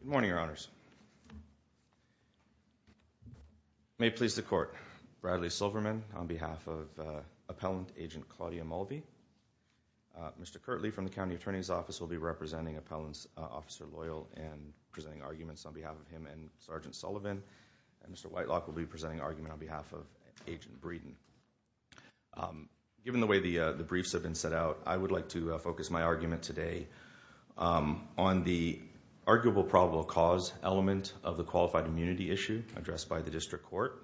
Good morning, Your Honors. May it please the Court, Bradley Silverman on behalf of Appellant Agent Claudia Mulvey. Mr. Kirtley from the County Attorney's Office will be representing Appellant Officer Loyal and presenting arguments on behalf of him and Sgt. Sullivan. Mr. Whitelock will be presenting argument on behalf of Agent Breeden. Given the way the briefs have been set out, I would like to focus my argument today on the arguable probable cause element of the qualified immunity issue addressed by the District Court.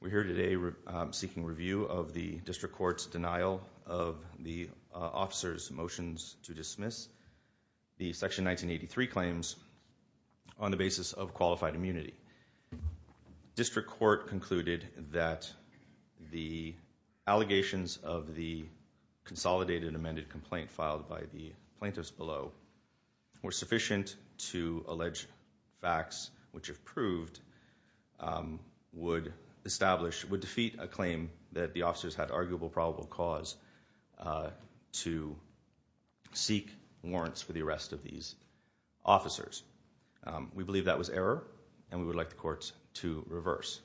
We're here today seeking review of the District Court's denial of the officer's motions to dismiss the Section 1983 claims on the basis of qualified immunity. District Court concluded that the allegations of the consolidated amended complaint filed by the plaintiffs below were sufficient to arguable probable cause to seek warrants for the arrest of these officers. We believe that was error and we would like the courts to reverse.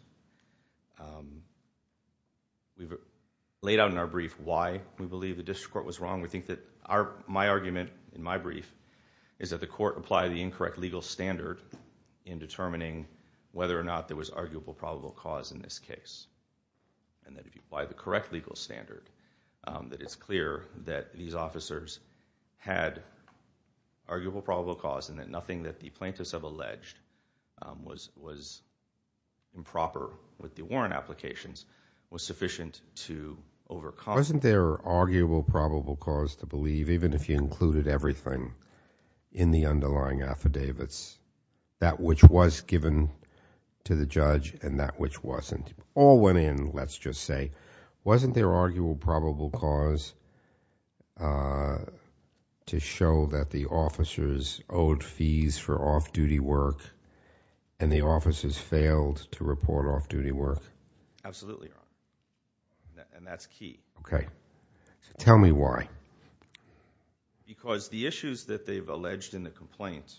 We've laid out in our brief why we believe the District Court was wrong. We think that my argument in my brief is that the court applied the incorrect legal standard in determining whether or not there was arguable probable cause in this case. And that if you apply the correct legal standard, that it's clear that these officers had arguable probable cause and that nothing that the plaintiffs have alleged was improper with the warrant applications was sufficient to overcome. Wasn't there arguable probable cause to believe even if you included everything in the underlying affidavits, that which was given to the judge and that which wasn't? All went in, let's just say. Wasn't there arguable probable cause to show that the officers owed fees for off-duty work and the officers failed to report off-duty work? Absolutely. And that's key. Okay. Tell me why. Because the issues that they've alleged in the complaint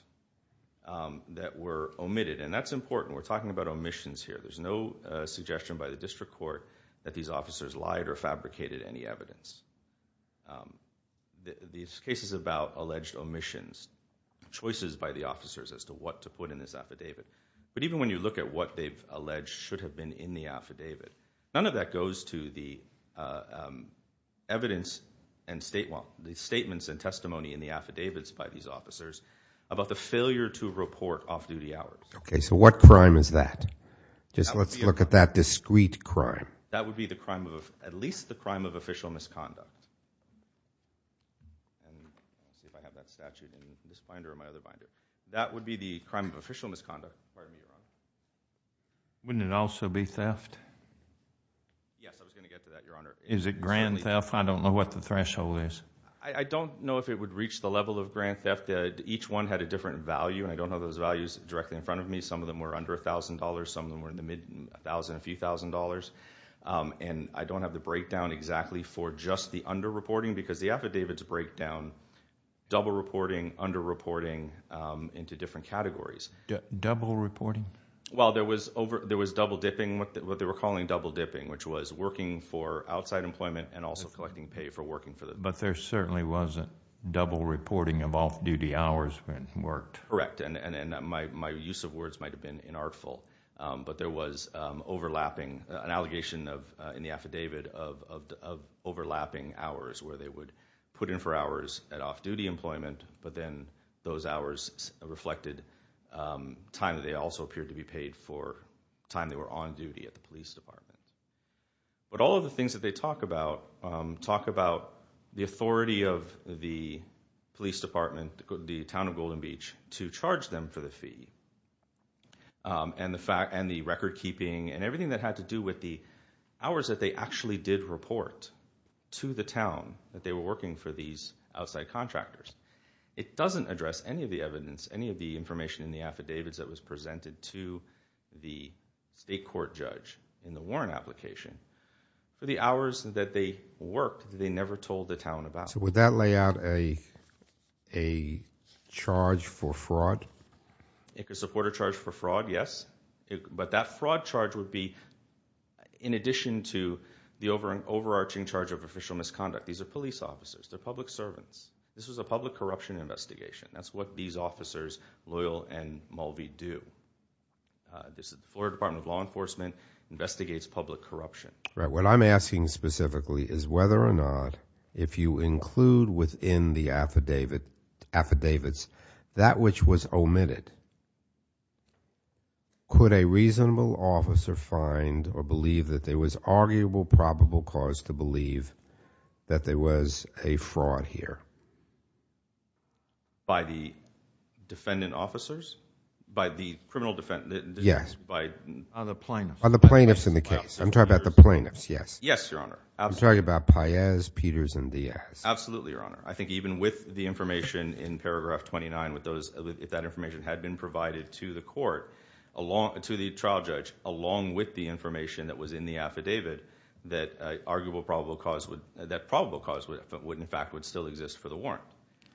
that were omitted, and that's important, we're talking about omissions here. There's no suggestion by the District Court that these officers lied or fabricated any evidence. These cases about alleged omissions, choices by the officers as to what to put in this affidavit, but even when you look at what they've alleged should have been in the affidavit, none of that goes to the evidence and statements and testimony in the affidavits by these officers about the failure to report off-duty hours. Okay, so what crime is that? Just let's look at that discrete crime. That would be the crime of, at least the crime of official misconduct. That would be the crime of official misconduct. Wouldn't it also be theft? Yes, I was going to get to that, Your Honor. Is it grand theft? I don't know what the threshold is. I don't know if it would reach the level of grand theft. Each one had a different value, and I don't know those values directly in front of me. Some of them were under $1,000. Some of them were in the mid-thousand, a few thousand dollars. And I don't have the breakdown exactly for just the under-reporting because the affidavits break down double reporting, under-reporting into different categories. Double reporting? Well, there was double dipping, what they were calling double dipping, which was working for outside employment and also collecting pay for working for them. But there certainly wasn't double reporting of off-duty hours when it worked. Correct, and my use of words might have been inartful. But there was overlapping, an allegation in the affidavit of overlapping hours, where they would put in for hours at off-duty employment, but then those hours reflected time that they also appeared to be paid for time they were on But all of the things that they talk about, talk about the authority of the police department, the town of Golden Beach, to charge them for the fee, and the record keeping, and everything that had to do with the hours that they actually did report to the town that they were working for these outside contractors. It doesn't address any of the evidence, any of the information in the affidavits that was presented to the state court judge in the warrant application. The hours that they worked, they never told the town about. So would that lay out a charge for fraud? It could support a charge for fraud, yes. But that fraud charge would be in addition to the overarching charge of official misconduct. These are police officers, they're public That's what these officers, Loyal and Mulvey, do. The Florida Department of Law Enforcement investigates public corruption. What I'm asking specifically is whether or not, if you include within the affidavits, that which was omitted, could a reasonable officer find or believe that there was arguable probable cause to believe that there was a fraud here? By the defendant officers? By the criminal defendants? Yes. By the plaintiffs? By the plaintiffs in the case. I'm talking about the plaintiffs, yes. Yes, Your Honor. I'm talking about Paez, Peters, and Diaz. Absolutely, Your Honor. I think even with the information in paragraph 29, if that information had been provided to the court, to the trial judge, along with the information that was in the affidavit, that probable cause would in fact still exist for the warrant.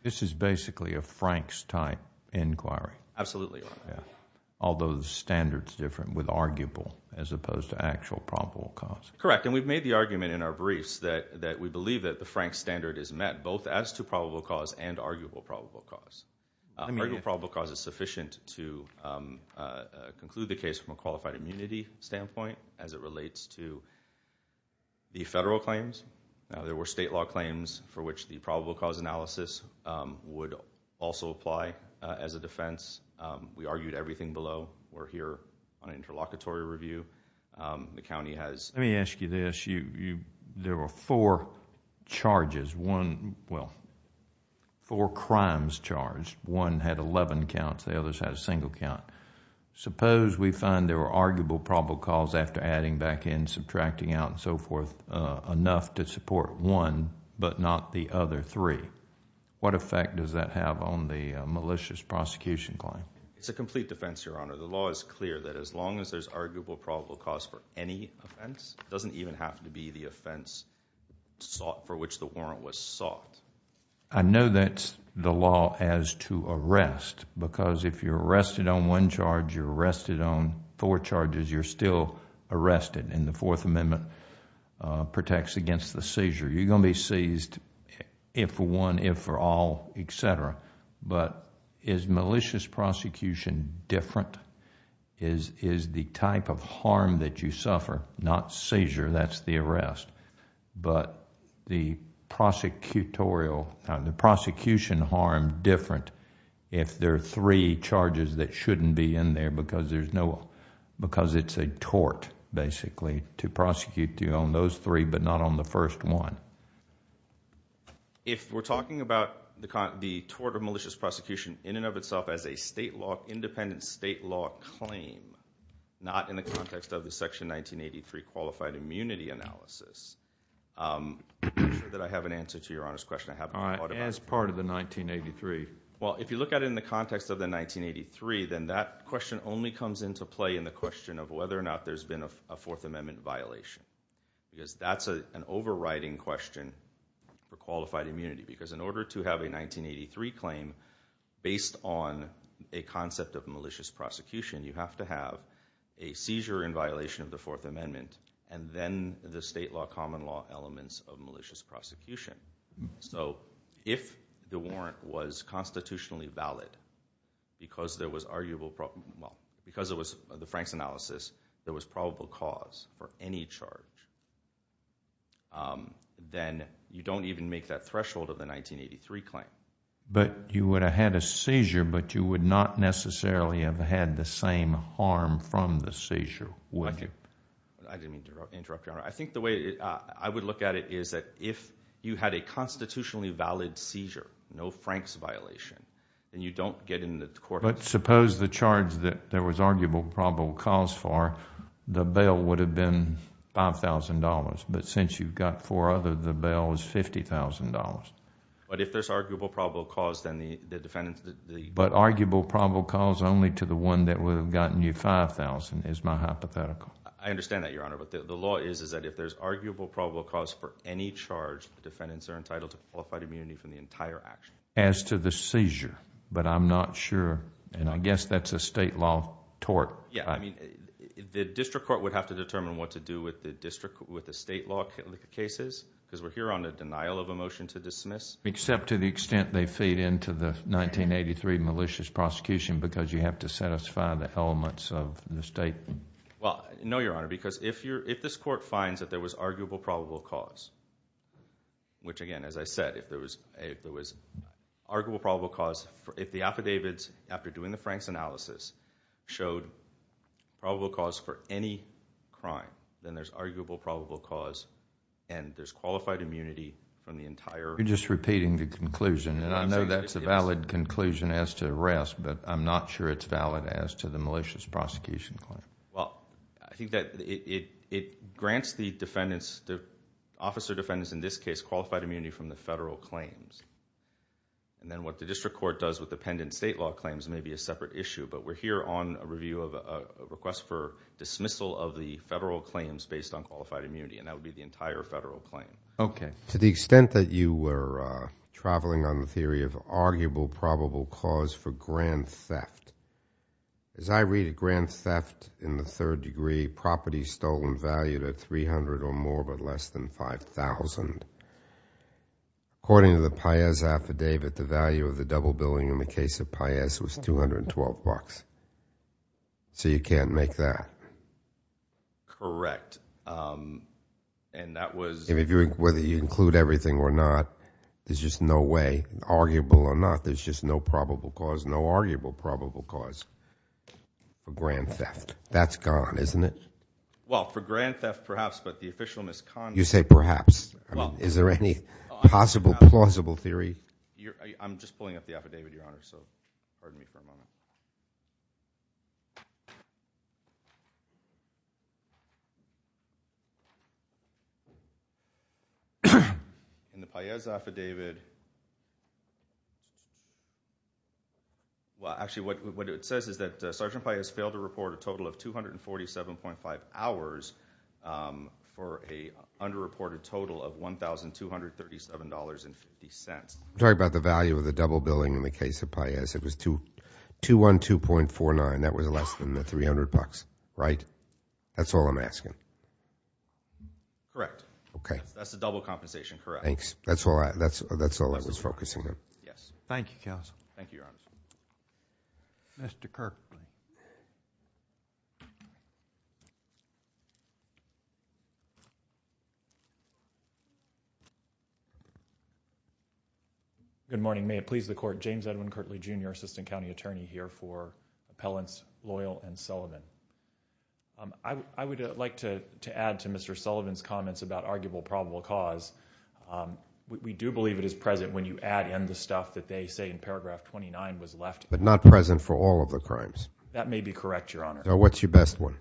This is basically a Frank's type inquiry. Absolutely, Your Honor. Although the standard's different with arguable as opposed to actual probable cause. Correct. And we've made the argument in our briefs that we believe that the Frank's standard is met, both as to probable cause and arguable probable cause. Arguable probable cause is to the federal claims. There were state law claims for which the probable cause analysis would also apply as a defense. We argued everything below. We're here on an interlocutory review. The county has... Let me ask you this. There were four charges, one... well, four crimes charged. One had eleven counts. The others had a single count. Suppose we find there were arguable probable cause, after adding back in, subtracting out, and so forth, enough to support one, but not the other three. What effect does that have on the malicious prosecution claim? It's a complete defense, Your Honor. The law is clear that as long as there's arguable probable cause for any offense, it doesn't even have to be the offense sought for which the warrant was sought. I know that's the law as to arrest, because if you're arrested on one charge, you're arrested on four charges, you're still arrested, and the Fourth Amendment protects against the seizure. You're going to be seized if for one, if for all, et cetera. But is malicious prosecution different? Is the type of harm that you suffer, not seizure, that's the arrest, but the prosecutorial... the prosecution harm different if there are three charges that shouldn't be in there, because it's a tort, basically, to prosecute you on those three, but not on the first one. If we're talking about the tort of malicious prosecution in and of itself as a state law, independent state law claim, not in the context of the Section 1983 Qualified Immunity Analysis, I'm sure that I have an answer to Your Honor's question, I haven't thought about it. All right. As part of the 1983... Well, if you look at it in the context of the 1983, then that question only comes into play in the question of whether or not there's been a Fourth Amendment violation, because that's an overriding question for qualified immunity, because in order to have a 1983 claim based on a concept of malicious prosecution, you have to have a seizure in violation of the Fourth Amendment, and then the state law, common law elements of malicious prosecution. So if the warrant was constitutionally valid, because there was arguable... well, because it was the Frank's analysis, there was probable cause for any charge, then you don't even make that threshold of the 1983 claim. But you would have had a seizure, but you would not necessarily have had the same harm from the seizure, would you? I didn't mean to interrupt, Your Honor. I think the way I would look at it is that if you had a constitutionally valid seizure, no Frank's violation, then you don't get in the court... But suppose the charge that there was arguable probable cause for, the bail would have been $5,000, but since you've got four others, the bail is $50,000. But if there's arguable probable cause, then the defendant... But arguable probable cause only to the one that would have gotten you $5,000 is my hypothetical. I understand that, Your Honor, but the law is that if there's arguable probable cause for any charge, the defendants are entitled to qualified immunity from the entire action. As to the seizure, but I'm not sure, and I guess that's a state law tort. Yeah, I mean, the district court would have to determine what to do with the district... with the state law cases, because we're here on the denial of a motion to dismiss. Except to the extent they feed into the 1983 malicious prosecution, because you have to satisfy the elements of the state... Well, no, Your Honor, because if this court finds that there was arguable probable cause, which again, as I said, if there was arguable probable cause, if the affidavits, after doing the Franks analysis, showed probable cause for any crime, then there's arguable probable cause, and there's qualified immunity from the entire... You're just repeating the conclusion, and I know that's a valid conclusion as to arrest, but I'm not sure it's valid as to the malicious prosecution claim. Well, I think that it grants the defendants, the officer defendants in this case, qualified immunity from the federal claims. And then what the district court does with the pendant state law claims may be a separate issue, but we're here on a review of a request for dismissal of the federal claims based on qualified immunity, and that would be the entire federal claim. Okay. To the extent that you were traveling on the theory of arguable probable cause for grand theft in the third degree, property stolen valued at $300,000 or more, but less than $5,000, according to the Paez affidavit, the value of the double billing in the case of Paez was $212, so you can't make that? Correct. And that was... Whether you include everything or not, there's just no way, arguable or not, there's just no probable cause, no arguable probable cause for grand theft. That's gone, isn't it? Well, for grand theft, perhaps, but the official misconduct... You say perhaps. I mean, is there any possible, plausible theory? I'm just pulling up the affidavit, Your Honor, so pardon me for a moment. In the Paez affidavit... Well, actually, what it says is that Sergeant Paez failed to report a total of 247.5 hours for an underreported total of $1,237.50. I'm talking about the value of the double billing in the case of Paez. It was $212.49. That was less than the $300, right? That's all I'm asking. Correct. Okay. That's the double compensation, correct. Thanks. That's all I was focusing on. Yes. Thank you, counsel. Thank you, Your Honor. Mr. Kirk. Good morning. May it please the Court. James Edwin Kirtley, Jr. Assistant County Attorney here for Appellants Loyal and Sullivan. I would like to add to Mr. Sullivan's comments about arguable probable cause. We do believe it is present when you add in the stuff that they say in paragraph 29 was left... But not present for all of the crimes? That may be correct, Your Honor. Now, what's your best one?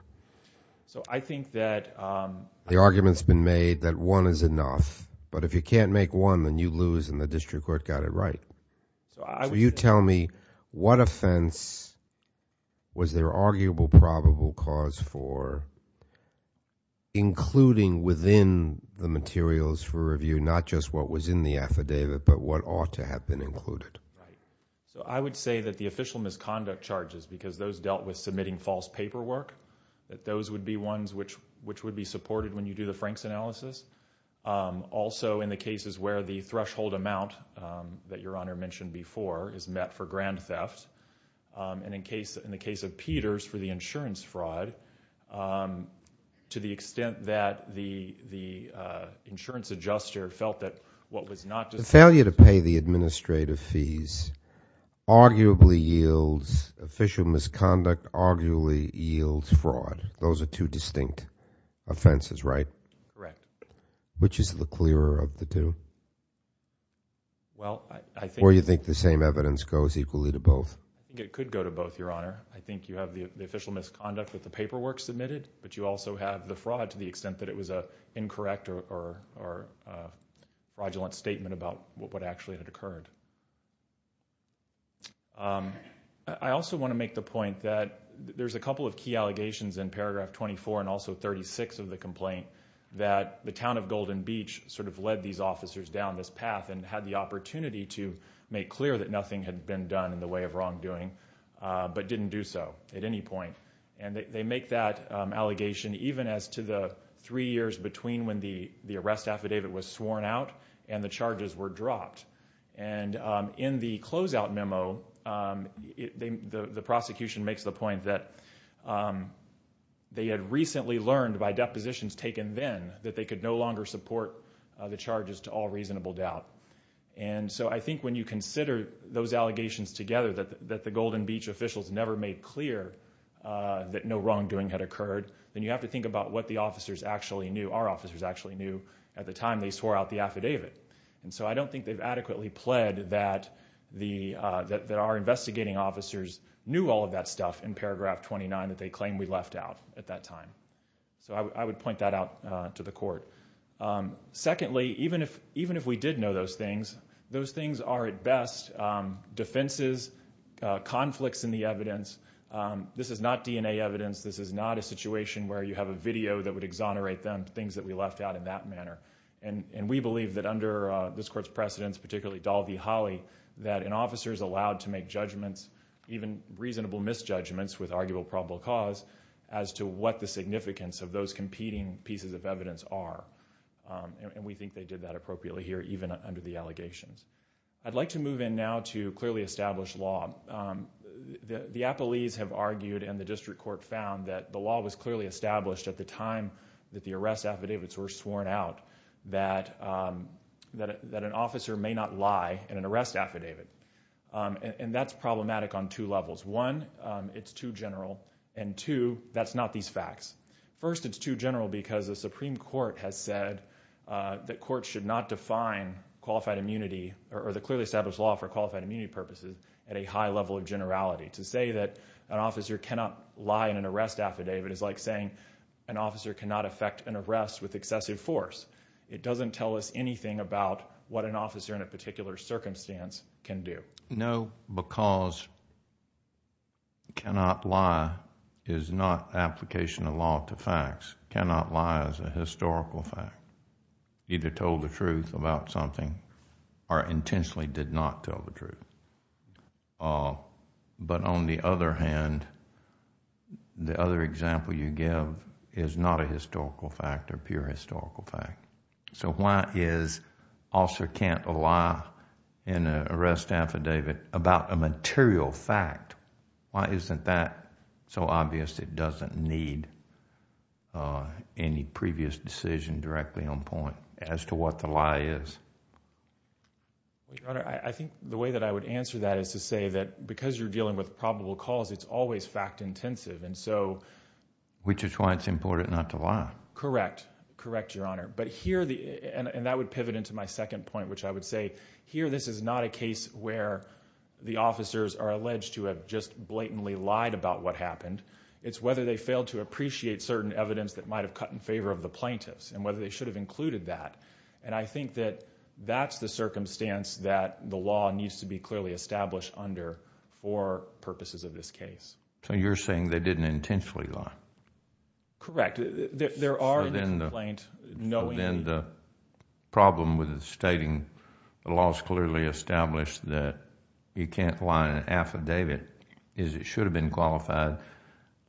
I think that... The argument's been made that one is enough, but if you can't make one, then you lose and the district court got it right. So, you tell me, what offense was there arguable probable cause for, including within the materials for review, not just what was in the affidavit, but what ought to have been included? Right. So, I would say that the official misconduct charges, because those dealt with submitting false paperwork, that those would be ones which would be supported when you do the Franks analysis. Also, in the cases where the threshold amount that Your Honor mentioned before is met for grand theft, and in the case of Peters for the insurance fraud, to the extent that the insurance adjuster felt that what was not... The failure to pay the administrative fees arguably yields... official misconduct arguably yields fraud. Those are two distinct offenses, right? Correct. Which is the clearer of the two? Well, I think... Or you think the same evidence goes equally to both? I think it could go to both, Your Honor. I think you have the official misconduct with the paperwork submitted, but you also have the fraud to the extent that it was an incorrect or fraudulent statement about what actually had occurred. I also want to make the point that there's a couple of key allegations in paragraph 24 and also 36 of the complaint that the town of Golden Beach sort of led these officers down this path and had the opportunity to make clear that nothing had been done in the way of wrongdoing, but didn't do so at any point. They make that allegation even as to the three years between when the arrest affidavit was sworn out and the charges were dropped. And in the closeout memo, the prosecution makes the point that they had recently learned by depositions taken then that they could no longer support the charges to all reasonable doubt. And so I think when you consider those allegations together that the Golden Beach officials never made clear that no wrongdoing had occurred, then you have to think about what the officers actually knew, our officers actually knew, at the time they swore out the affidavit. And so I don't think they've adequately pled that our investigating officers knew all of that stuff in paragraph 29 that they claim we left out at that time. So I would point that out to the court. Secondly, even if we did know those things, those things are at best defenses, conflicts in the evidence. This is not DNA evidence. This is not a situation where you have a video that would exonerate them, things that we left out in that manner. And we believe that under this court's precedents, particularly Dahl v. Holley, that an officer is allowed to make judgments, even reasonable misjudgments with arguable probable cause, as to what the significance of those competing pieces of evidence are. And we think they did that appropriately here even under the allegations. I'd like to move in now to clearly established law. The appellees have argued and the district court found that the law was clearly established at the time that the arrest affidavits were sworn out that an officer may not lie in an arrest affidavit. And that's problematic on two levels. One, it's too general. And two, that's not these facts. First it's too general because the Supreme Court has said that courts should not define qualified immunity or the clearly established law for qualified immunity purposes at a high level of generality. To say that an officer cannot lie in an arrest affidavit is like saying an officer cannot affect an arrest with excessive force. It doesn't tell us anything about what an officer in a particular circumstance can do. No, because cannot lie is not application of law to facts. Cannot lie is a historical fact. Either told the truth about something or intentionally did not tell the truth. But on the other hand, the other example you give is not a historical fact or pure historical fact. So why is an officer can't lie in an arrest affidavit about a material fact? Why isn't that so obvious it doesn't need any previous decision directly on point as to what the lie is? Your Honor, I think the way that I would answer that is to say that because you're dealing with probable cause, it's always fact intensive. And so. Which is why it's important not to lie. Correct. Correct, Your Honor. But here, and that would pivot into my second point, which I would say here, this is not a case where the officers are alleged to have just blatantly lied about what happened. It's whether they failed to appreciate certain evidence that might have cut in favor of the plaintiffs and whether they should have included that. And I think that that's the circumstance that the law needs to be clearly established under for purposes of this case. So you're saying they didn't intentionally lie? Correct. There are in this complaint, knowingly. So then the problem with stating the law is clearly established that you can't lie in an affidavit is it should have been qualified. If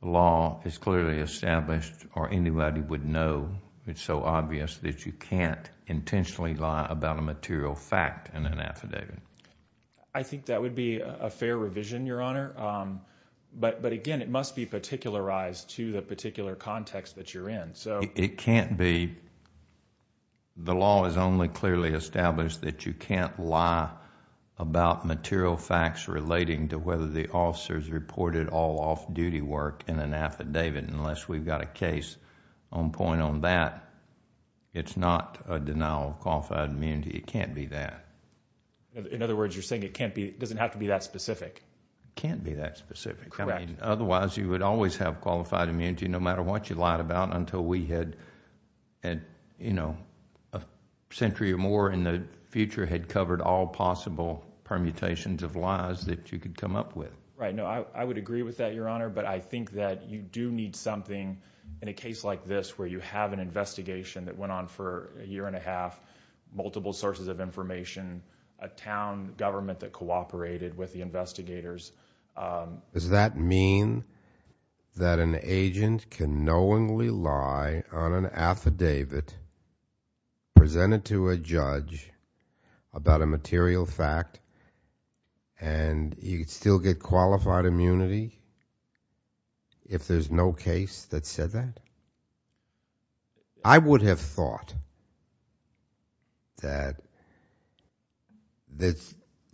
the law is clearly established or anybody would know, it's so obvious that you can't intentionally lie about a material fact in an affidavit. I think that would be a fair revision, Your Honor. But again, it must be particularized to the particular context that you're in. It can't be. The law is only clearly established that you can't lie about material facts relating to whether the officers reported all off-duty work in an affidavit unless we've got a case on point on that. It's not a denial of qualified immunity. It can't be that. In other words, you're saying it doesn't have to be that specific? It can't be that specific. Correct. Otherwise, you would always have qualified immunity no matter what you lied about until we had, you know, a century or more in the future had covered all possible permutations of lies that you could come up with. Right. No, I would agree with that, Your Honor, but I think that you do need something in a case like this where you have an investigation that went on for a year and a half, multiple sources of information, a town government that cooperated with the investigators. Does that mean that an agent can knowingly lie on an affidavit presented to a judge about a material fact and you'd still get qualified immunity if there's no case that said that? I would have thought that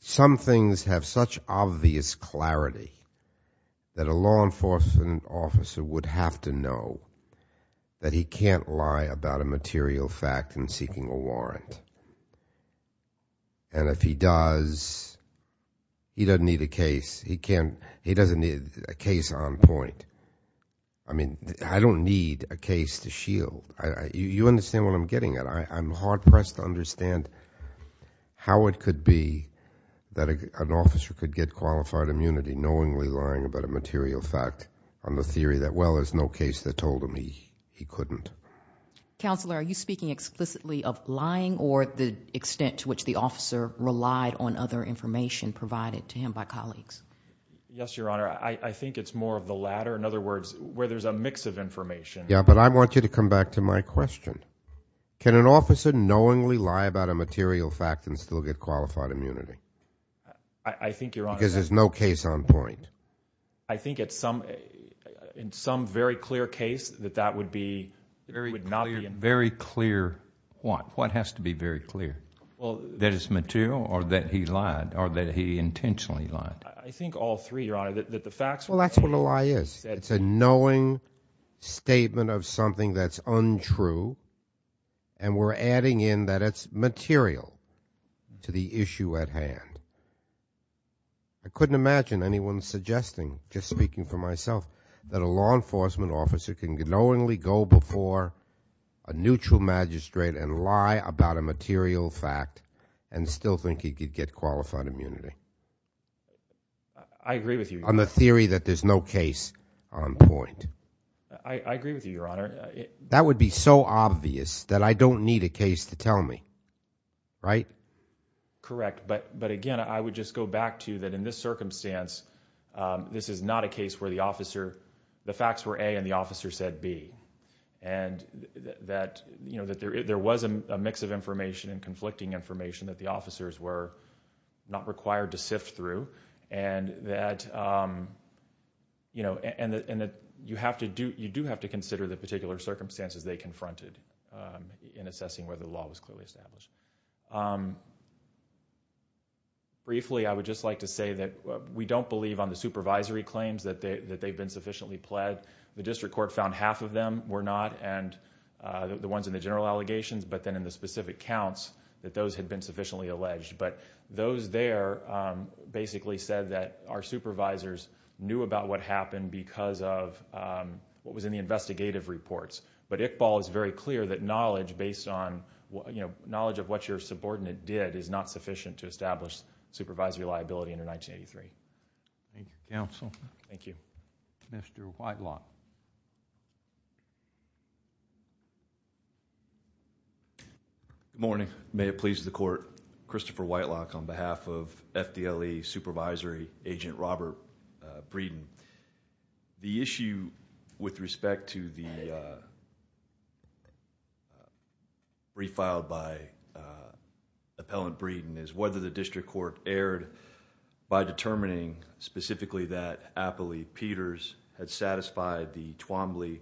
some things have such obvious clarity that a law enforcement officer would have to know that he can't lie about a material fact in seeking a warrant. And if he does, he doesn't need a case. He doesn't need a case on point. I mean, I don't need a case to shield. You understand what I'm getting at. I'm hard-pressed to understand how it could be that an officer could get qualified immunity knowingly lying about a material fact on the theory that, well, there's no case that told him he couldn't. Counselor, are you speaking explicitly of lying or the extent to which the officer relied on other information provided to him by colleagues? Yes, Your Honor. I think it's more of the latter, in other words, where there's a mix of information. Yeah, but I want you to come back to my question. Can an officer knowingly lie about a material fact and still get qualified immunity? I think, Your Honor... At what point? I think in some very clear case that that would not be... Very clear what? What has to be very clear, that it's material or that he lied or that he intentionally lied? I think all three, Your Honor, that the facts... Well, that's what a lie is. It's a knowing statement of something that's untrue, and we're adding in that it's material to the issue at hand. I couldn't imagine anyone suggesting, just speaking for myself, that a law enforcement officer can knowingly go before a neutral magistrate and lie about a material fact and still think he could get qualified immunity. I agree with you, Your Honor. On the theory that there's no case on point. I agree with you, Your Honor. That would be so obvious that I don't need a case to tell me, right? Correct. But, again, I would just go back to that in this circumstance, this is not a case where the officer... the facts were A and the officer said B. There was a mix of information and conflicting information that the officers were not required to sift through, and that you do have to consider the particular circumstances they confronted in assessing whether the law was clearly established. Briefly, I would just like to say that we don't believe on the supervisory claims that they've been sufficiently pled. The district court found half of them were not, and the ones in the general allegations, but then in the specific counts, that those had been sufficiently alleged. Those there basically said that our supervisors knew about what happened because of what was in the investigative reports. But Iqbal is very clear that knowledge of what your subordinate did is not sufficient to establish supervisory liability under 1983. Thank you. Counsel? Thank you. Mr. Whitelock. Good morning. May it please the court. Christopher Whitelock on behalf of FDLE Supervisory Agent Robert Breeden. The issue with respect to the brief filed by Appellant Breeden is whether the district court erred by determining specifically that Apley Peters had satisfied the Twombly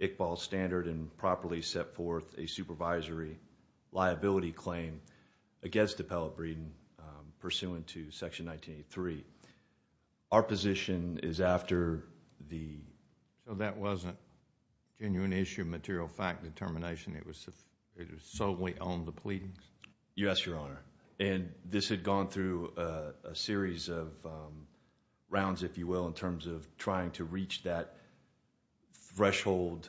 Iqbal standard and properly set forth a supervisory liability claim against Appellant Breeden pursuant to Section 1983. Our position is after the... So that wasn't a genuine issue of material fact determination. It was solely on the pleadings? Yes, Your Honor. And this had gone through a series of rounds, if you will, in terms of trying to reach that threshold,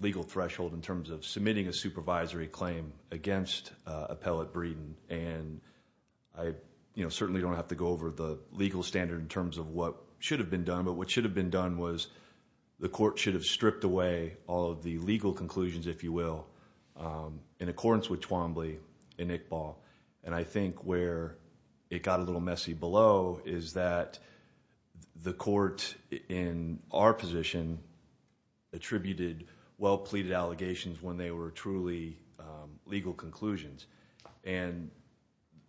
legal threshold, in terms of submitting a supervisory claim against Appellant Breeden. And I certainly don't have to go over the legal standard in terms of what should have been done, but what should have been done was the court should have stripped away all of the legal conclusions, if you will, in accordance with Twombly and Iqbal. And I think where it got a little messy below is that the court in our position attributed well-pleaded allegations when they were truly legal conclusions. And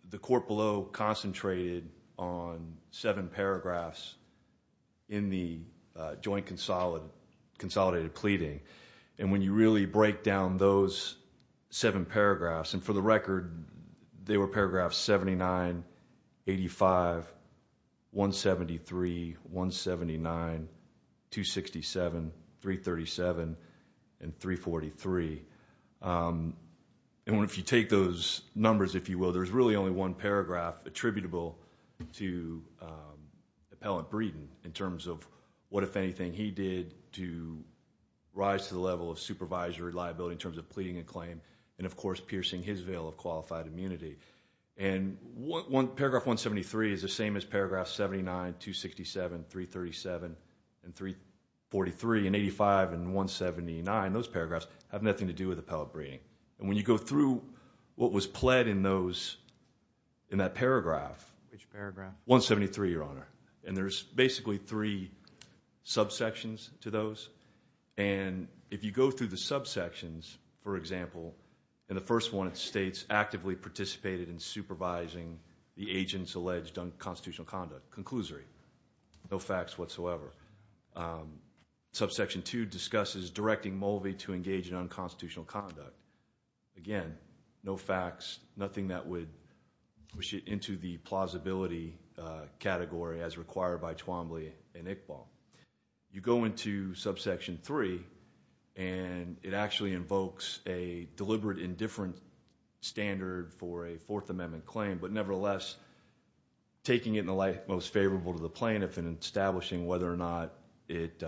the court below concentrated on seven paragraphs in the joint consolidated pleading. And when you really break down those seven paragraphs, and for the record, they were paragraphs 79, 85, 173, 179, 267, 337, and 343. And if you take those numbers, if you will, there's really only one paragraph attributable to Appellant Breeden in terms of what, if anything, he did to rise to the level of supervisory liability in terms of pleading a claim and, of course, piercing his veil of qualified immunity. And paragraph 173 is the same as paragraph 79, 267, 337, and 343. And 85 and 179, those paragraphs have nothing to do with Appellant Breeden. And when you go through what was pled in that paragraph, 173, Your Honor. And there's basically three subsections to those. And if you go through the subsections, for example, in the first one it states, actively participated in supervising the agent's alleged unconstitutional conduct. Conclusory. No facts whatsoever. Subsection 2 discusses directing Mulvey to engage in unconstitutional conduct. Again, no facts, nothing that would push it into the plausibility category as required by Twombly and Iqbal. You go into subsection 3 and it actually invokes a deliberate indifferent standard for a Fourth Amendment claim. But nevertheless, taking it in the light most favorable to the plaintiff and establishing whether or not it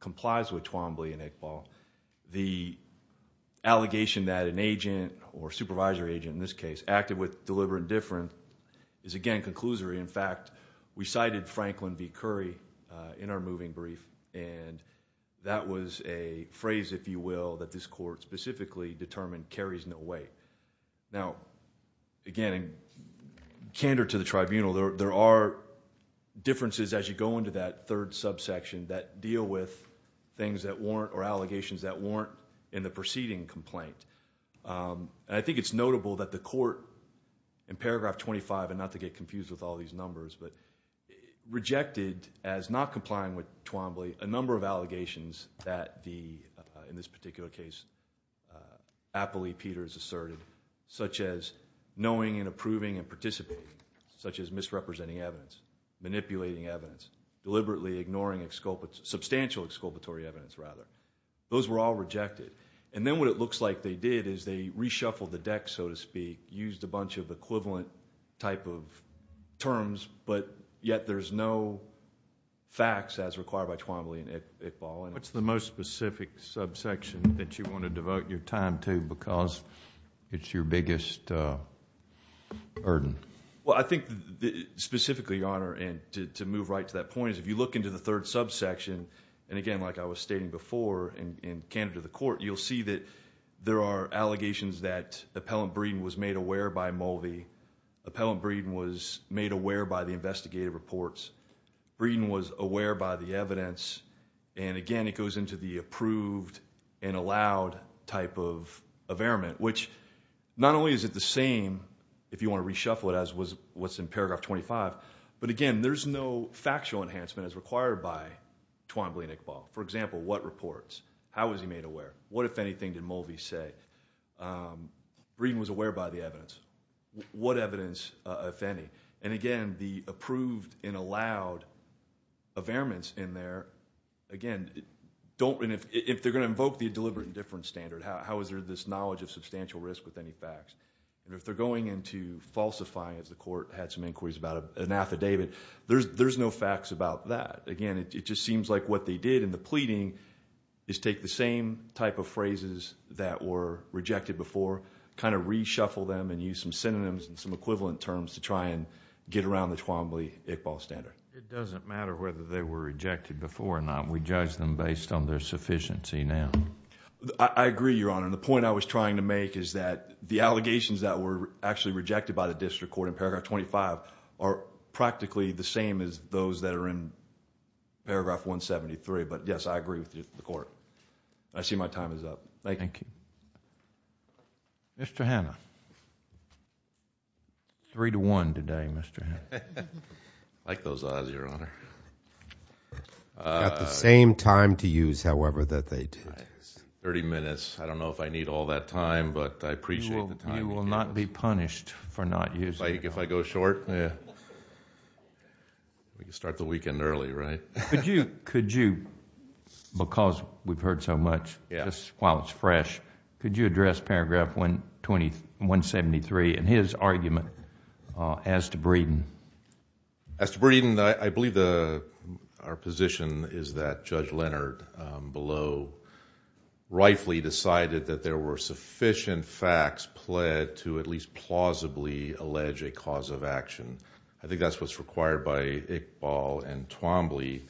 complies with Twombly and Iqbal. The allegation that an agent, or supervisory agent in this case, acted with deliberate indifference is again, conclusory. In fact, we cited Franklin B. Curry in our moving brief. And that was a phrase, if you will, that this court specifically determined carries no weight. Now, again, candor to the tribunal. There are differences as you go into that third subsection that deal with things that warrant, or allegations that warrant in the preceding complaint. And I think it's notable that the court, in paragraph 25, and not to get confused with all these numbers, but rejected as not complying with Twombly a number of allegations that, in this particular case, Appley Peters asserted, such as knowing and approving and participating, such as misrepresenting evidence, manipulating evidence, deliberately ignoring substantial exculpatory evidence, rather. Those were all rejected. And then what it looks like they did is they reshuffled the deck, so to speak, used a bunch of equivalent type of terms, but yet there's no facts as required by Twombly and Iqbal. What's the most specific subsection that you want to devote your time to because it's your biggest burden? Well, I think specifically, Your Honor, and to move right to that point, is if you look into the third subsection, and again, like I was stating before in candor to the court, you'll see that there are allegations that Appellant Breeden was made aware by Mulvey. Appellant Breeden was made aware by the investigative reports. Breeden was aware by the evidence. And again, it goes into the approved and allowed type of averiment, which not only is it the same if you want to reshuffle it as was what's in paragraph 25, but again, there's no factual enhancement as required by Twombly and Iqbal. For example, what reports? How was he made aware? What, if anything, did Mulvey say? Breeden was aware by the evidence. What evidence, if any? And again, the approved and allowed averiments in there, again, if they're going to invoke the deliberate indifference standard, how is there this knowledge of substantial risk with any facts? If they're going into falsifying, as the court had some inquiries about an affidavit, there's no facts about that. Again, it just seems like what they did in the pleading is take the same type of phrases that were rejected before, kind of reshuffle them and use some synonyms and some equivalent terms to try and get around the Twombly-Iqbal standard. It doesn't matter whether they were rejected before or not. We judge them based on their sufficiency now. I agree, Your Honor. The point I was trying to make is that the allegations that were actually rejected by the district court in paragraph 25 are practically the same as those that are in paragraph 173, but yes, I agree with the court. I see my time is up. Thank you. Thank you. Mr. Hanna. Three to one today, Mr. Hanna. I like those eyes, Your Honor. You've got the same time to use, however, that they did. 30 minutes. I don't know if I need all that time, but I appreciate the time. You will not be punished for not using it. Like if I go short? Yeah. We can start the weekend early, right? Could you, because we've heard so much, while it's fresh, could you address paragraph 173 and his argument as to Breeden? As to Breeden, I believe our position is that Judge Leonard below rightfully decided that there were sufficient facts pled to at least plausibly allege a cause of action. I think that's what's required by Iqbal and Twombly.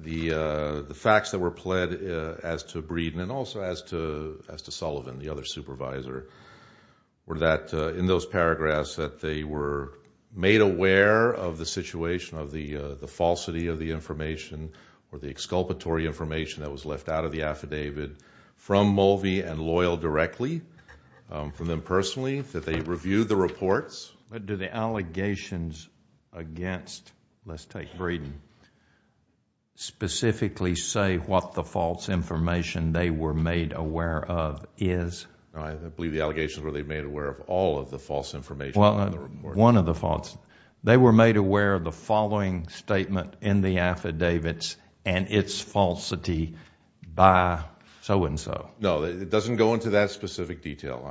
The facts that were pled as to Breeden and also as to Sullivan, the other supervisor, were that in those paragraphs that they were made aware of the situation of the falsity of the information or the exculpatory information that was left out of the affidavit from Mulvey and Loyal directly, from them personally, that they reviewed the reports. But do the allegations against, let's take Breeden, specifically say what the false information they were made aware of is? I believe the allegations were they made aware of all of the false information in the report. One of the false. They were made aware of the following statement in the affidavits and its falsity by so-and-so. No, it doesn't go into that specific detail.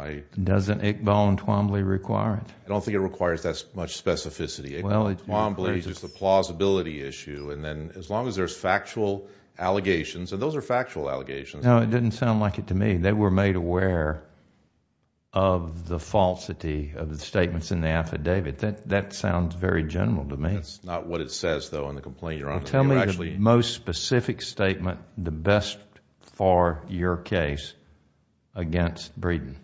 Doesn't Iqbal and Twombly require it? I don't think it requires that much specificity. Iqbal and Twombly is just a plausibility issue. As long as there's factual allegations, and those are factual allegations. No, it didn't sound like it to me. They were made aware of the falsity of the statements in the affidavit. That sounds very general to me. That's not what it says, though, in the complaint. Tell me the most specific statement, the best for your case, against Breeden.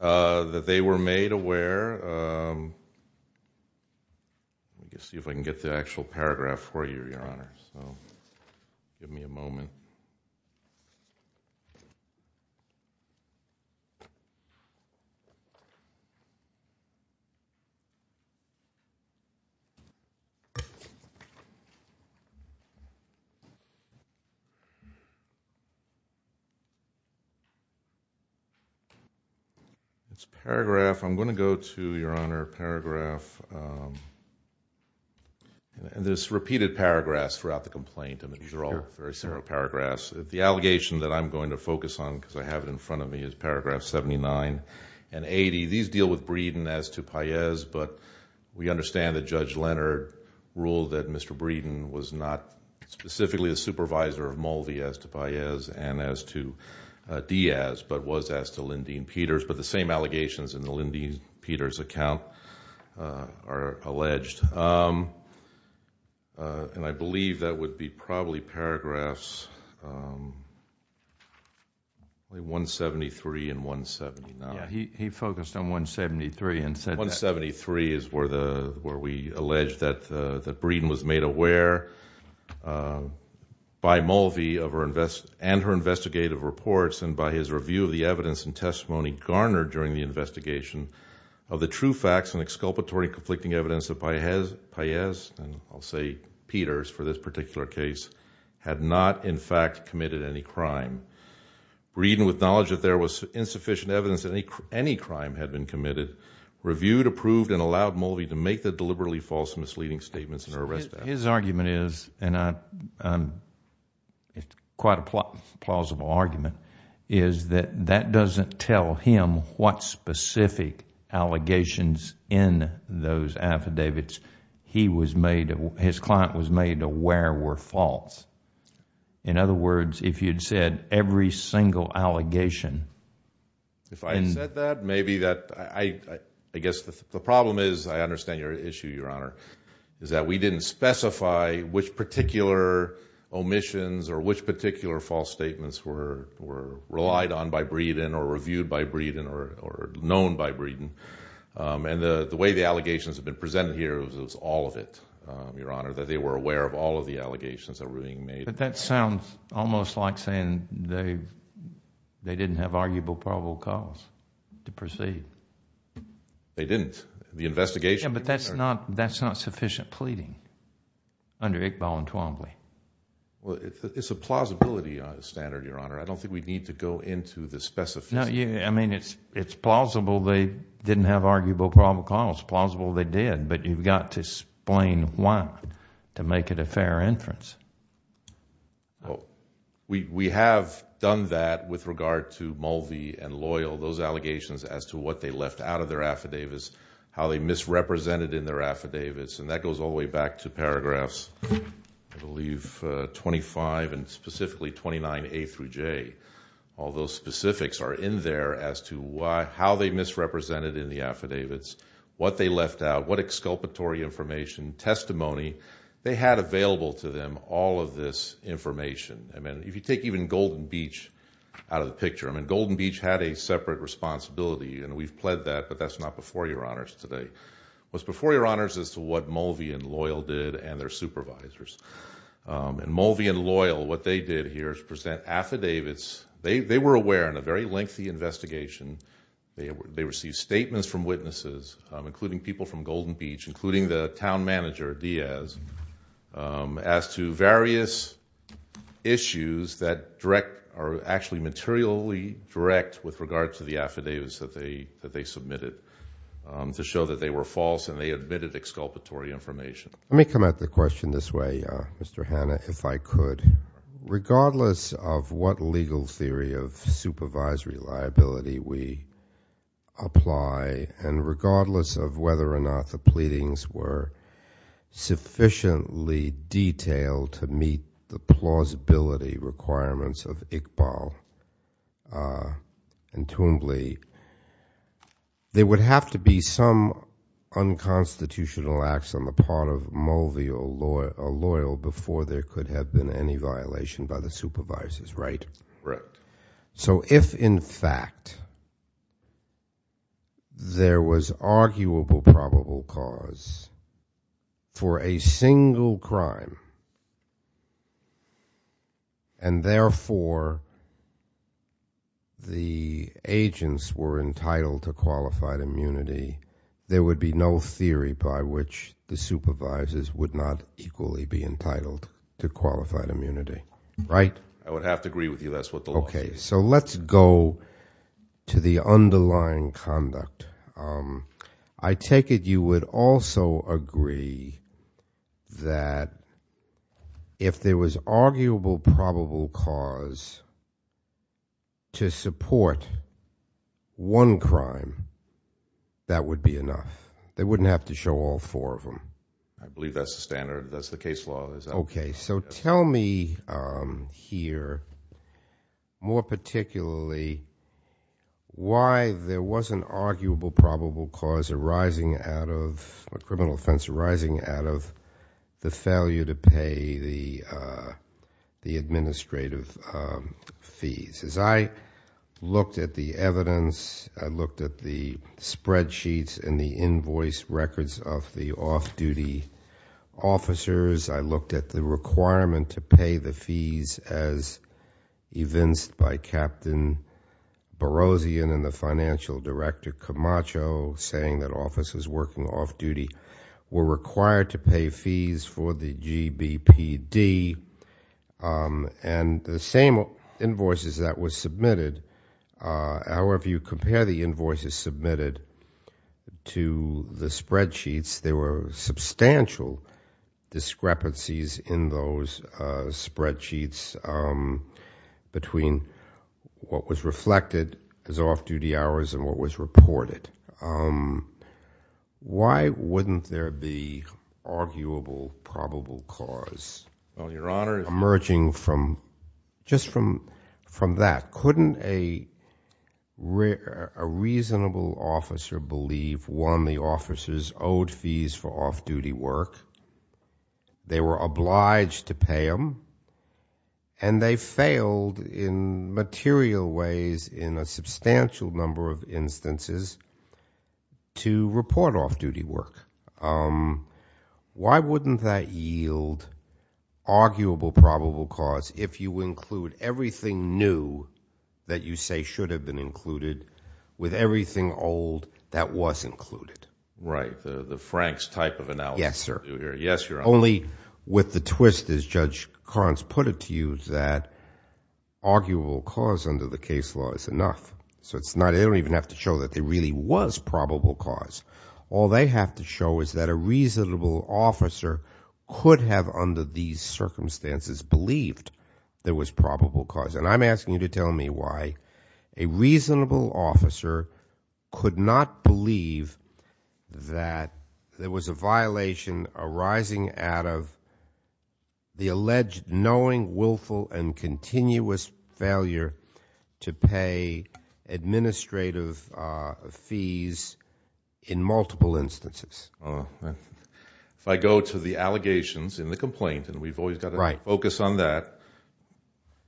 That they were made aware... Let me see if I can get the actual paragraph for you, Your Honor, so give me a moment. It's a paragraph. I'm going to go to, Your Honor, paragraph... There's repeated paragraphs throughout the complaint. These are all very similar paragraphs. The allegation that I'm going to focus on, because I have it in front of me, is paragraph 79 and 80. These deal with Breeden as to Paez, but we understand that Judge Leonard ruled that Mr. Breeden was not specifically a supervisor of Mulvey as to Paez and as to Diaz, but was as to Lyndene Peters. But the same allegations in the Lyndene Peters account are alleged. And I believe that would be probably paragraphs... 173 and 179. Yeah, he focused on 173 and said that... 173 is where we allege that Breeden was made aware by Mulvey and her investigative reports and by his review of the evidence and testimony garnered during the investigation of the true facts and exculpatory conflicting evidence that Paez, and I'll say Peters for this particular case, had not in fact committed any crime. Breeden, with knowledge that there was insufficient evidence that any crime had been committed, reviewed, approved, and allowed Mulvey to make the deliberately false misleading statements in her arrest... His argument is, and it's quite a plausible argument, is that that doesn't tell him what specific allegations in those affidavits his client was made aware were false. In other words, if you'd said every single allegation... If I had said that, maybe that... I guess the problem is, I understand your issue, Your Honor, is that we didn't specify which particular omissions or which particular false statements were relied on by Breeden or reviewed by Breeden or known by Breeden. And the way the allegations have been presented here was all of it, Your Honor, that they were aware of all of the allegations that were being made. But that sounds almost like saying they didn't have arguable probable cause to proceed. They didn't. The investigation... Yeah, but that's not sufficient pleading under Iqbal and Twombly. Well, it's a plausibility standard, Your Honor. I don't think we need to go into the specifics. No, I mean, it's plausible they didn't have arguable probable cause. It's plausible they did, but you've got to explain why to make it a fair inference. Well, we have done that with regard to Mulvey and Loyal, those allegations as to what they left out of their affidavits, how they misrepresented in their affidavits, and that goes all the way back to paragraphs. I believe 25 and specifically 29A through J. All those specifics are in there as to how they misrepresented in the affidavits, what they left out, what exculpatory information, testimony they had available to them, all of this information. I mean, if you take even Golden Beach out of the picture, I mean, Golden Beach had a separate responsibility, and we've pled that, but that's not before Your Honors today. It was before Your Honors as to what Mulvey and Loyal did and their supervisors. And Mulvey and Loyal, what they did here is present affidavits. They were aware, in a very lengthy investigation, they received statements from witnesses, including people from Golden Beach, including the town manager, Diaz, as to various issues that are actually materially direct with regard to the affidavits that they submitted to show that they were false and they admitted exculpatory information. Let me come at the question this way, Mr. Hanna, if I could. Regardless of what legal theory of supervisory liability we apply, and regardless of whether or not the pleadings were sufficiently detailed to meet the plausibility requirements of Iqbal and Toombly, there would have to be some unconstitutional acts on the part of Mulvey or Loyal before there could have been any violation by the supervisors, right? Right. So if, in fact, there was arguable probable cause for a single crime and therefore the agents were entitled to qualified immunity, there would be no theory by which the supervisors would not equally be entitled to qualified immunity, right? I would have to agree with you. That's what the law says. Okay, so let's go to the underlying conduct. I take it you would also agree that if there was arguable probable cause to support one crime that would be enough. They wouldn't have to show all four of them. I believe that's the standard. That's the case law. Okay, so tell me here more particularly why there was an arguable probable cause arising out of a criminal offense to pay the administrative fees. As I looked at the evidence, I looked at the spreadsheets and the invoice records of the off-duty officers. I looked at the requirement to pay the fees as evinced by Captain Barozian and the financial director Camacho saying that officers working off-duty were required to pay fees for the GBPD and the same invoices that were submitted. However, if you compare the invoices submitted to the spreadsheets, there were substantial discrepancies in those spreadsheets between what was reflected as off-duty hours and what was reported. Why wouldn't there be arguable probable cause emerging from just from that? Couldn't a reasonable officer believe one of the officers owed fees for off-duty work, they were obliged to pay them, and they failed in material ways in a substantial number of instances to report off-duty work? Why wouldn't that yield arguable probable cause if you include everything new that you say should have been included with everything old that was included? Right. The Franks type of analysis. Yes, sir. Yes, Your Honor. Only with the twist, as Judge Karnes put it to you, that arguable cause under the case law is enough. So they don't even have to show that there really was probable cause. All they have to show is that a reasonable officer could have under these circumstances believed there was probable cause. And I'm asking you to tell me why a reasonable officer could not believe that there was a violation arising out of the alleged knowing, willful, and continuous failure to pay administrative fees in multiple instances. If I go to the allegations in the complaint, and we've always got to focus on that,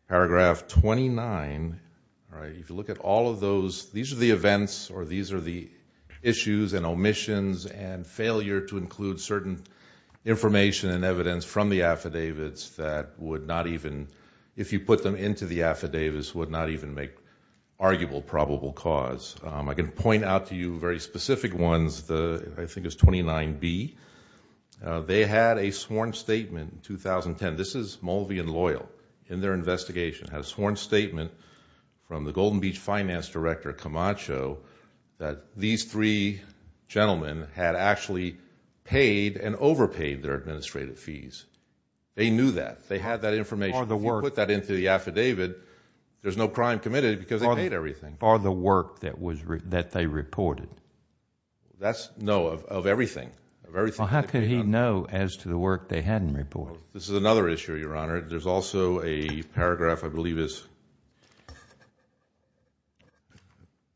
paragraph 29, if you look at all of those, these are the events or these are the issues and omissions and failure to include certain information and evidence from the affidavits that would not even, if you put them into the affidavits, would not even make arguable probable cause. I can point out to you very specific ones. I think it's 29B. They had a sworn statement in 2010. This is Mulvey and Loyal in their investigation. Had a sworn statement from the Golden Beach Finance Director, Camacho, that these three gentlemen had actually paid and overpaid their administrative fees. They knew that. They had that information. If you put that into the affidavit, there's no crime committed because they paid everything. Or the work that they reported. That's, no, of everything. How could he know as to the work they hadn't reported? This is another issue, Your Honor. There's also a paragraph, I believe,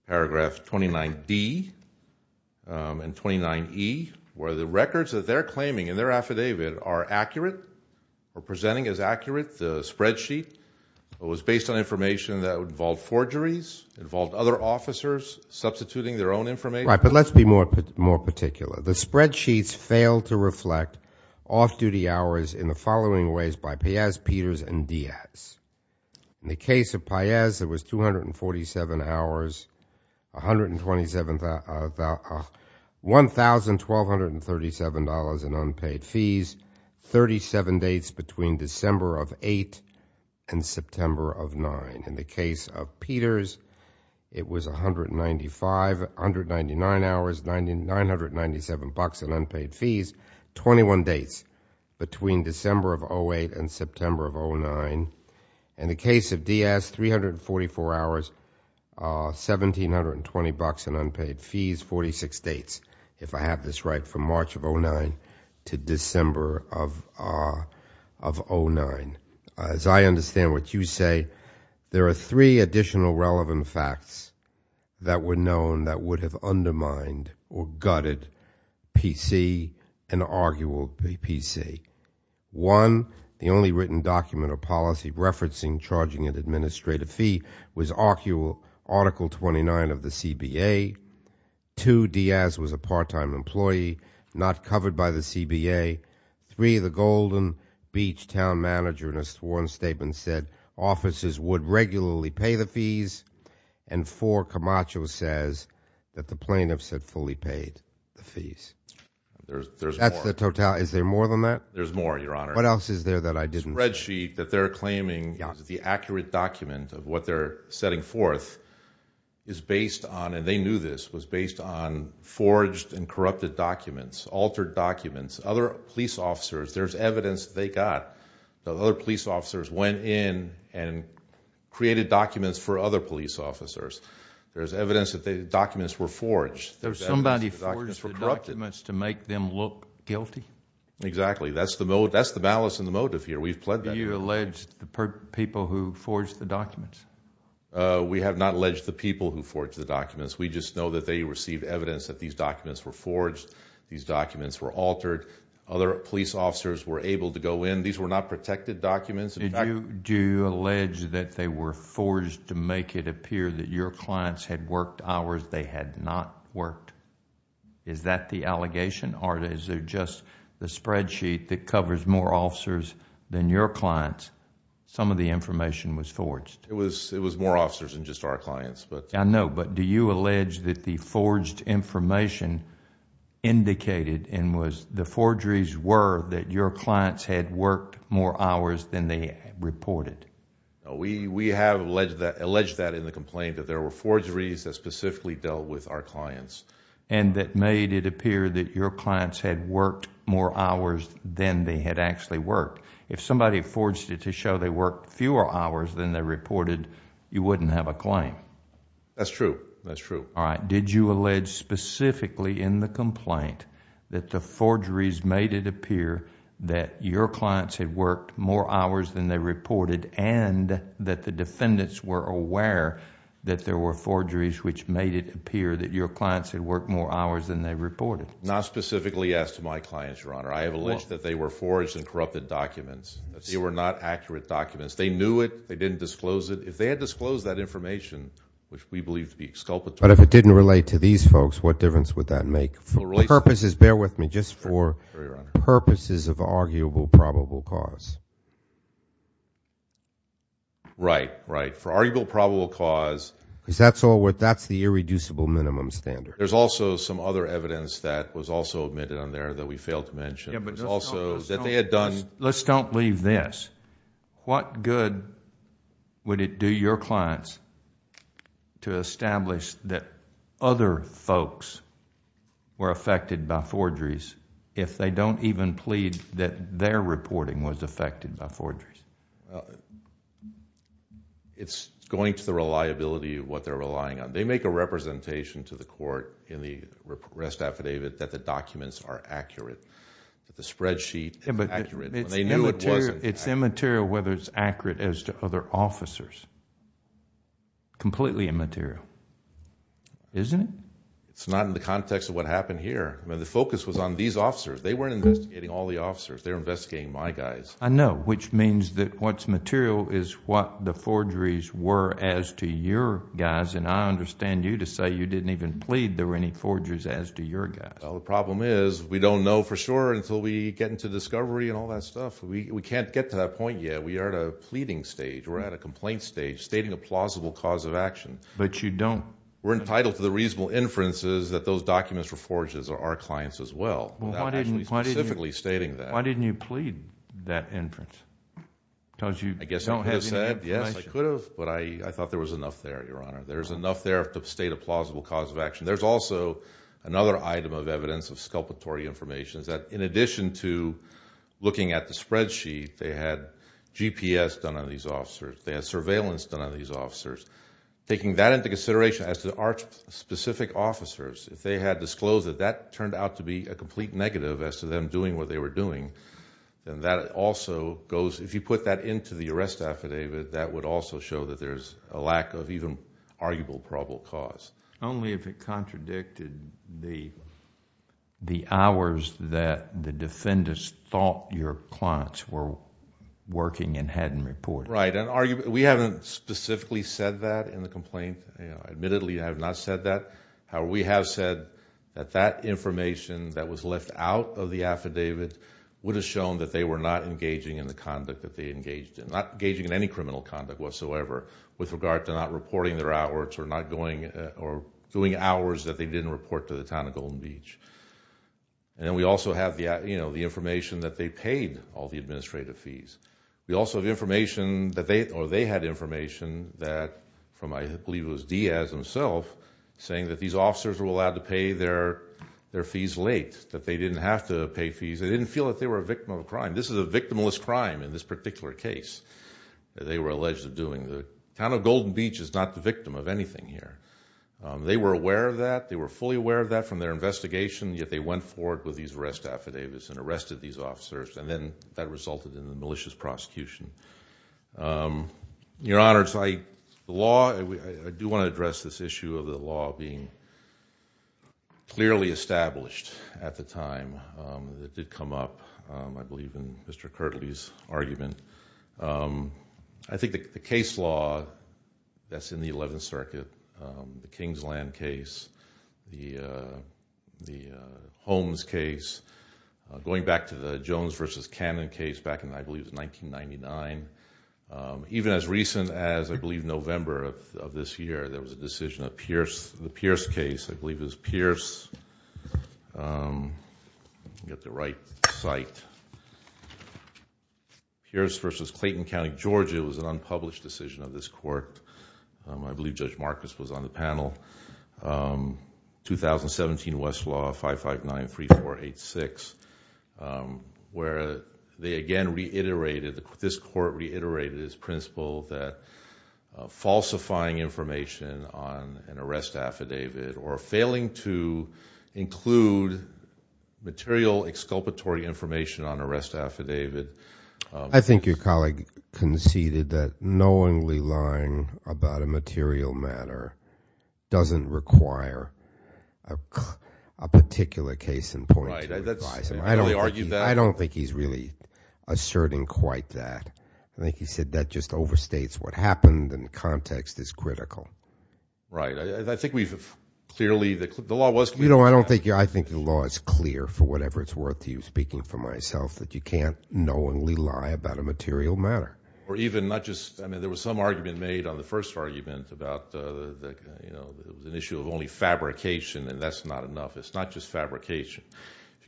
paragraph 29D and 29E where the records that they're claiming in their affidavit are accurate or presenting as accurate. The spreadsheet was based on information that involved forgeries, involved other officers substituting their own information. Right, but let's be more particular. The spreadsheets failed to reflect off-duty hours in the following ways by Piaz, Peters, and Diaz. In the case of Piaz, it was 247 hours, $1,237 in unpaid fees, 37 dates between December of 8 and September of 9. In the case of Peters, it was 195, 199 hours, $997 in unpaid fees, 21 dates between December of 08 and September of 09. In the case of Diaz, 344 hours, $1,720 in unpaid fees, 46 dates, if I have this right, from March of 09 to December of 09. As I understand what you say, there are three additional relevant facts that were known that would have undermined or gutted PC and argued PC. One, the only written document or policy referencing charging an administrative fee was Article 29 of the CBA. Two, Diaz was a part-time employee, not covered by the CBA. Three, the Golden Beach town manager in a sworn statement said officers would regularly pay the fees. And four, Camacho says that the plaintiffs had fully paid the fees. That's the totality. Is there more than that? There's more, Your Honor. What else is there that I didn't... The spreadsheet that they're claiming is the accurate document of what they're setting forth is based on, and they knew this, was based on forged and corrupted documents, altered documents. Other police officers, there's evidence they got that other police officers went in and created documents for other police officers. There's evidence that the documents were forged. Somebody forged the documents to make them look guilty? Exactly. That's the malice and the motive here. We've pled that. Do you allege the people who forged the documents? We have not alleged the people who forged the documents. We just know that they received evidence that these documents were forged, these documents were altered, other police officers were able to go in. These were not protected documents. Do you allege that they were forged to make it appear that your clients had worked hours they had not worked? Is that the allegation? Or is there just the spreadsheet that covers more officers than your clients? Some of the information was forged. It was more officers than just our clients. I know, but do you allege that the forged information indicated and was... The forgeries were that your clients had worked more hours than they reported? We have alleged that in the complaint that there were forgeries that specifically dealt with our clients. And that made it appear that your clients had worked more hours than they had actually worked. If somebody forged it to show they worked fewer hours than they reported, you wouldn't have a claim. That's true. That's true. All right. Did you allege specifically in the complaint that the forgeries made it appear that your clients had worked more hours than they reported and that the defendants were aware that there were forgeries which made it appear that your clients had worked more hours than they reported? Not specifically as to my clients, Your Honor. I have alleged that they were forged and corrupted documents. They were not accurate documents. They knew it. They didn't disclose it. If they had disclosed that information, which we believe to be exculpatory... But if it didn't relate to these folks, what difference would that make? For purposes, bear with me, just for purposes of arguable probable cause. Right. Right. For arguable probable cause... Because that's all what... That's the irreducible minimum standard. There's also some other evidence that was also admitted on there that we failed to mention. There's also that they had done... Let's don't leave this. What good would it do your clients to establish that other folks were affected by forgeries if they don't even plead to the court that their reporting was affected by forgeries? It's going to the reliability of what they're relying on. They make a representation to the court in the arrest affidavit that the documents are accurate, that the spreadsheet is accurate when they knew it wasn't accurate. It's immaterial whether it's accurate as to other officers. Completely immaterial. Isn't it? It's not in the context of what happened here. The focus was on these officers. They weren't investigating all the officers. They were investigating my guys. I know, which means that what's material is what the forgeries were as to your guys and I understand you to say you didn't even plead there were any forgeries as to your guys. The problem is we don't know for sure until we get into discovery and all that stuff. We can't get to that point yet. We are at a pleading stage. We're at a complaint stage stating a plausible cause of action. But you don't. We're entitled to the reasonable inferences that those documents were forged as our clients as well. Why didn't you plead that inference? I guess you could have said yes I could have but I thought there was enough there, your honor. There's enough there to state a plausible cause of action. There's also another item of evidence of sculpatory information that in addition to looking at the spreadsheet they had GPS done on these officers. They had surveillance done on these officers. Taking that into consideration as to our specific officers if they had disclosed that that turned out to be a complete negative as to them doing what they were doing then that also goes... if you put that into the arrest affidavit that would also show that there's a lack of even arguable probable cause. Only if it contradicted the hours that the defendants thought your clients were working and hadn't reported. Right. We haven't specifically said that in the complaint. Admittedly I have not said that. However, we have said that that information that was left out of the complaint was left out of the complaint itself. We also have the information that they paid all the administrative fees. We also have information that they or they had information that from I believe it was Diaz himself saying that these officers were allowed to pay their fees late. That they didn't have to pay fees. They didn't feel that they were a victim of a crime. This is a victimless crime in this particular case that they were alleged of doing. The town of Golden Beach is not the victim of anything here. They were not aware of that. They were fully aware of that from their investigation yet they went forward with these arrest affidavits and arrested these officers and then in the malicious prosecution. Your Honor, I do want to address this issue of the law being clearly established at the time. It did not at the time. The case that we're talking about is the Jones versus Cannon case back in 1999. Even as recent as November of this year, there was a decision of the Pierce case. I believe it was Pierce versus 2017 Westlaw 559 3486 where they again reiterated this court reiterated its principle that information on an arrest affidavit or failing to include material exculpatory information on an arrest affidavit. I think your colleague conceded that knowingly lying about a material matter doesn't require a particular case in point. I don't think he's really asserting quite that. I think he said that just overstates what happened and the context is critical. Right. I think we've clearly the law was clear. I think the law is clear for whatever it's worth to you speaking for myself that you can't knowingly lie about a material matter. Or even not just there was some argument made on the first argument about the issue of only fabrication and that's not enough. It's not just fabrication.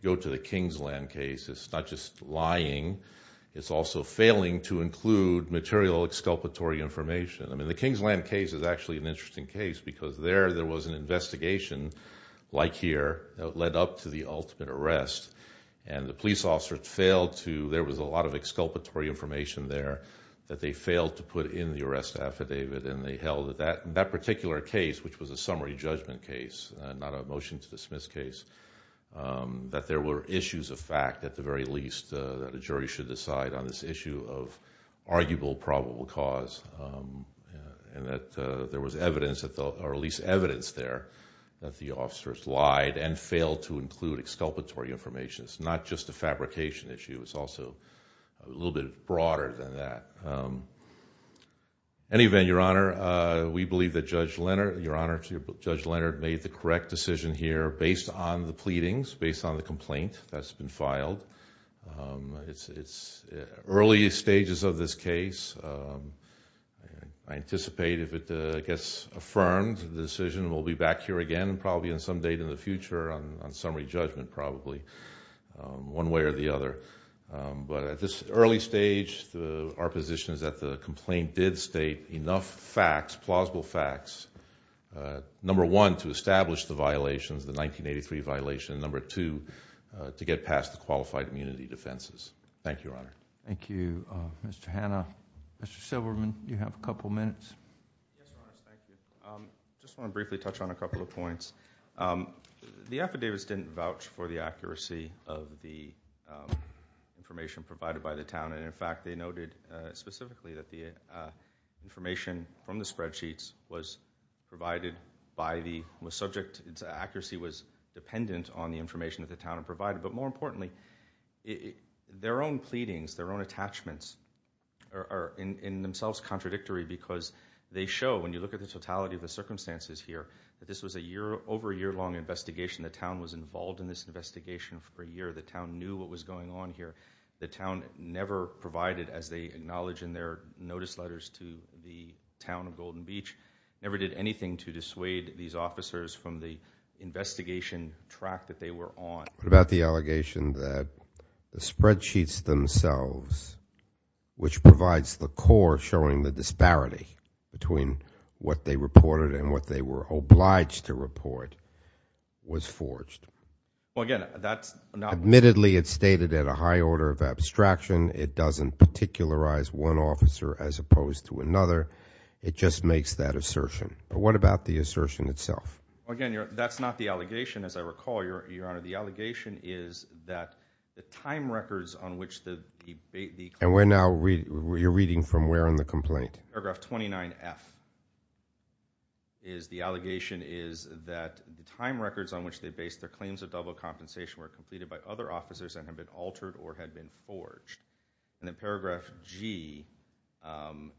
Go to the Kingsland case. It's not lying. It's also failing to include material exculpatory information. I mean the Kingsland case is actually an interesting case because there there was an investigation like here that led up to the ultimate arrest and the police officer failed to there was a lot of exculpatory information there that they failed to put in the arrest affidavit and they failed to include the issue of arguable probable cause and that there was evidence or at least evidence there that the officers lied and failed to include exculpatory information. It's not just a fabrication issue. It's also a little bit broader than that. Anyway, Your Honor, we believe that Judge Leonard, Your Honor, Judge Leonard made the correct decision here based on the pleadings, based on the complaint that's been filed. Early stages of this case, I anticipate if it gets affirmed, the decision will be back here again probably some date in the future on summary judgment probably one way or the other. But at this early stage, our position is that the complaint did state enough facts, plausible facts, number one, to establish the violations, the 1983 violation, and number two, to get past the allegations. The affidavits didn't vouch for the accuracy of the information provided by the town, and in fact, they noted specifically that the information from the spreadsheets was provided by the subject, its accuracy was dependent on the information that the town had provided, but more importantly, their own pleadings, their own attachments, are in themselves contradictory because they show, when you look at the totality of the circumstances here, that this was a year, over a year long investigation, the town was involved in this investigation for a year, the town knew what was going on here, the town never provided as they acknowledge in their notice letters to the town of Golden Beach, never did anything to dissuade these officers from the investigation track that they were on. What about the allegation that the spreadsheets themselves which provides the core showing the disparity between what they reported and what they were obliged to report was forged? Admittedly it's stated at a high order of abstraction, it doesn't particularize one officer as opposed to another, it just makes that assertion. What about the assertion itself? Again, that's not the allegation as I recall, Your Honor, the allegation is that the time which the And we're now reading from where in the complaint? Paragraph 29F is the allegation is that the time records on which they based their claims of double compensation were completed by other officers and have been altered or changed and that the records reviewed by them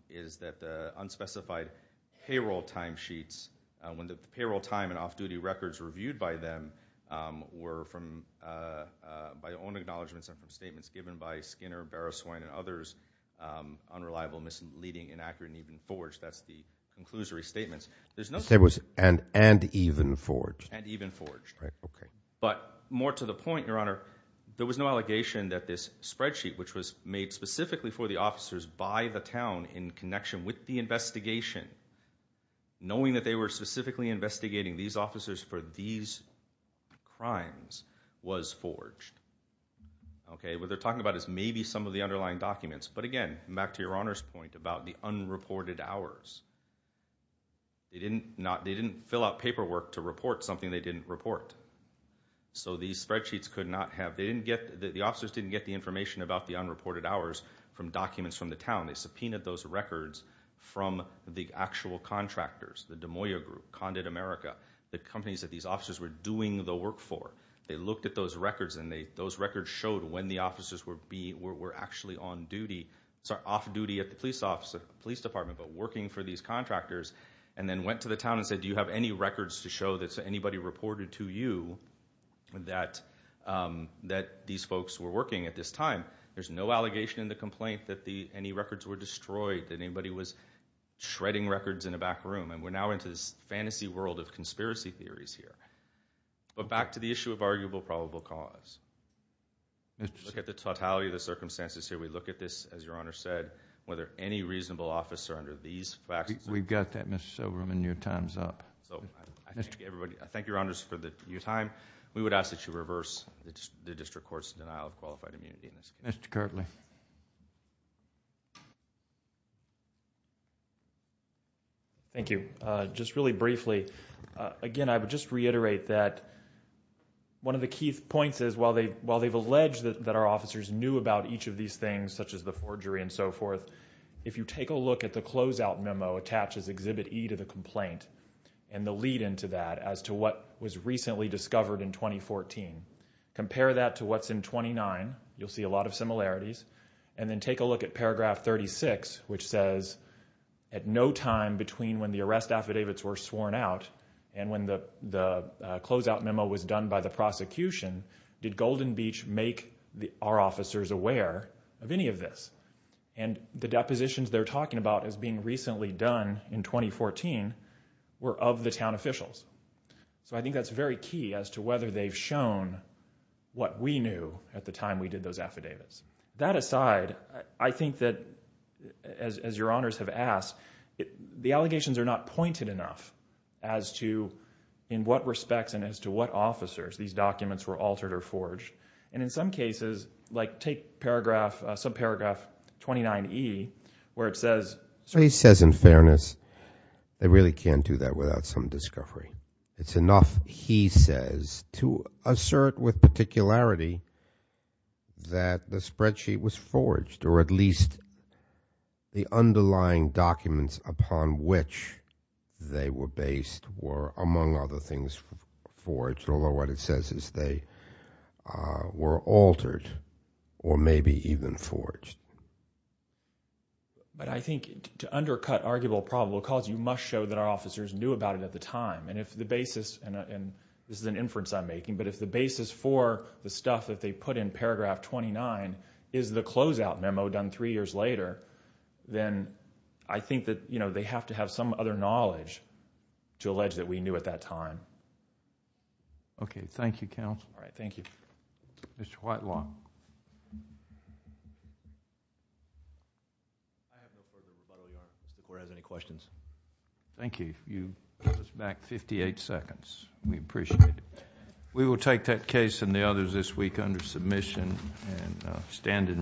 were from by own acknowledgments and statements given by Skinner, Barrow, Swine, and others unreliable, misleading, inaccurate, and even forged, that's the conclusory statements. And even forged? And even forged. But more to the point, documentation that the officers for these crimes was forged. Okay, what they're talking about is maybe some of the underlying documents, but again, back to your Honor's point about the unreported hours. They didn't fill out paperwork to report something they didn't report. So these spreadsheets could not have, they didn't get, the officers didn't get the information about the unreported hours from documents from the town. They subpoenaed those records from the actual contractors, the Des Moines group, Condit America, the companies that these officers were doing the work for. They looked at those records and they, those records showed when the officers were actually on duty, sorry, off-duty at the police department but working for these contractors and then went to the town and said do you have any records to show that anybody reported to you that these folks were working at this time. There's no allegation in the complaint that the, any records were destroyed, that anybody was shredding records in a back room and we're now into this fantasy world of conspiracy theories here. But back to the issue of arguable probable cause. We look at the totality of the circumstances here. We look at this, as Your Honor said, whether any reasonable officer under these facts We've got that Mr. Silverman, your time's up. I thank Your Honor for your time. We would ask that you reverse the district court's denial of qualified immunity. Mr. Kirtley. Thank you. Just really briefly, again, I would just reiterate that one of the key points is while they've alleged that our officers knew about each of these things, such as the forgery and so forth, if you take a look at the closeout memo attached as Exhibit E to the complaint and the lead into that as to what was recently done in 2014 was of the town officials. So I think that's very key as to whether they've shown what we knew at the time we did those affidavits. That aside, I think that as Your Honors have asked, the allegations are not pointed enough as to in what respects and as to what officers these documents were altered or forged. And in some cases, like take sub paragraph 29E where it says in fairness they really can't do that without some evidence that they were based or among other things forged. Although what it says is they were altered or maybe even forged. But I think to undercut arguable probable cause you must show that our I think that they have to have some other knowledge to allege that we knew at that time. Thank you counsel. Mr. Whitelaw. Thank you. You put us back 58 seconds. We appreciate it. We will take that case and the others this week under submission and stand in recess.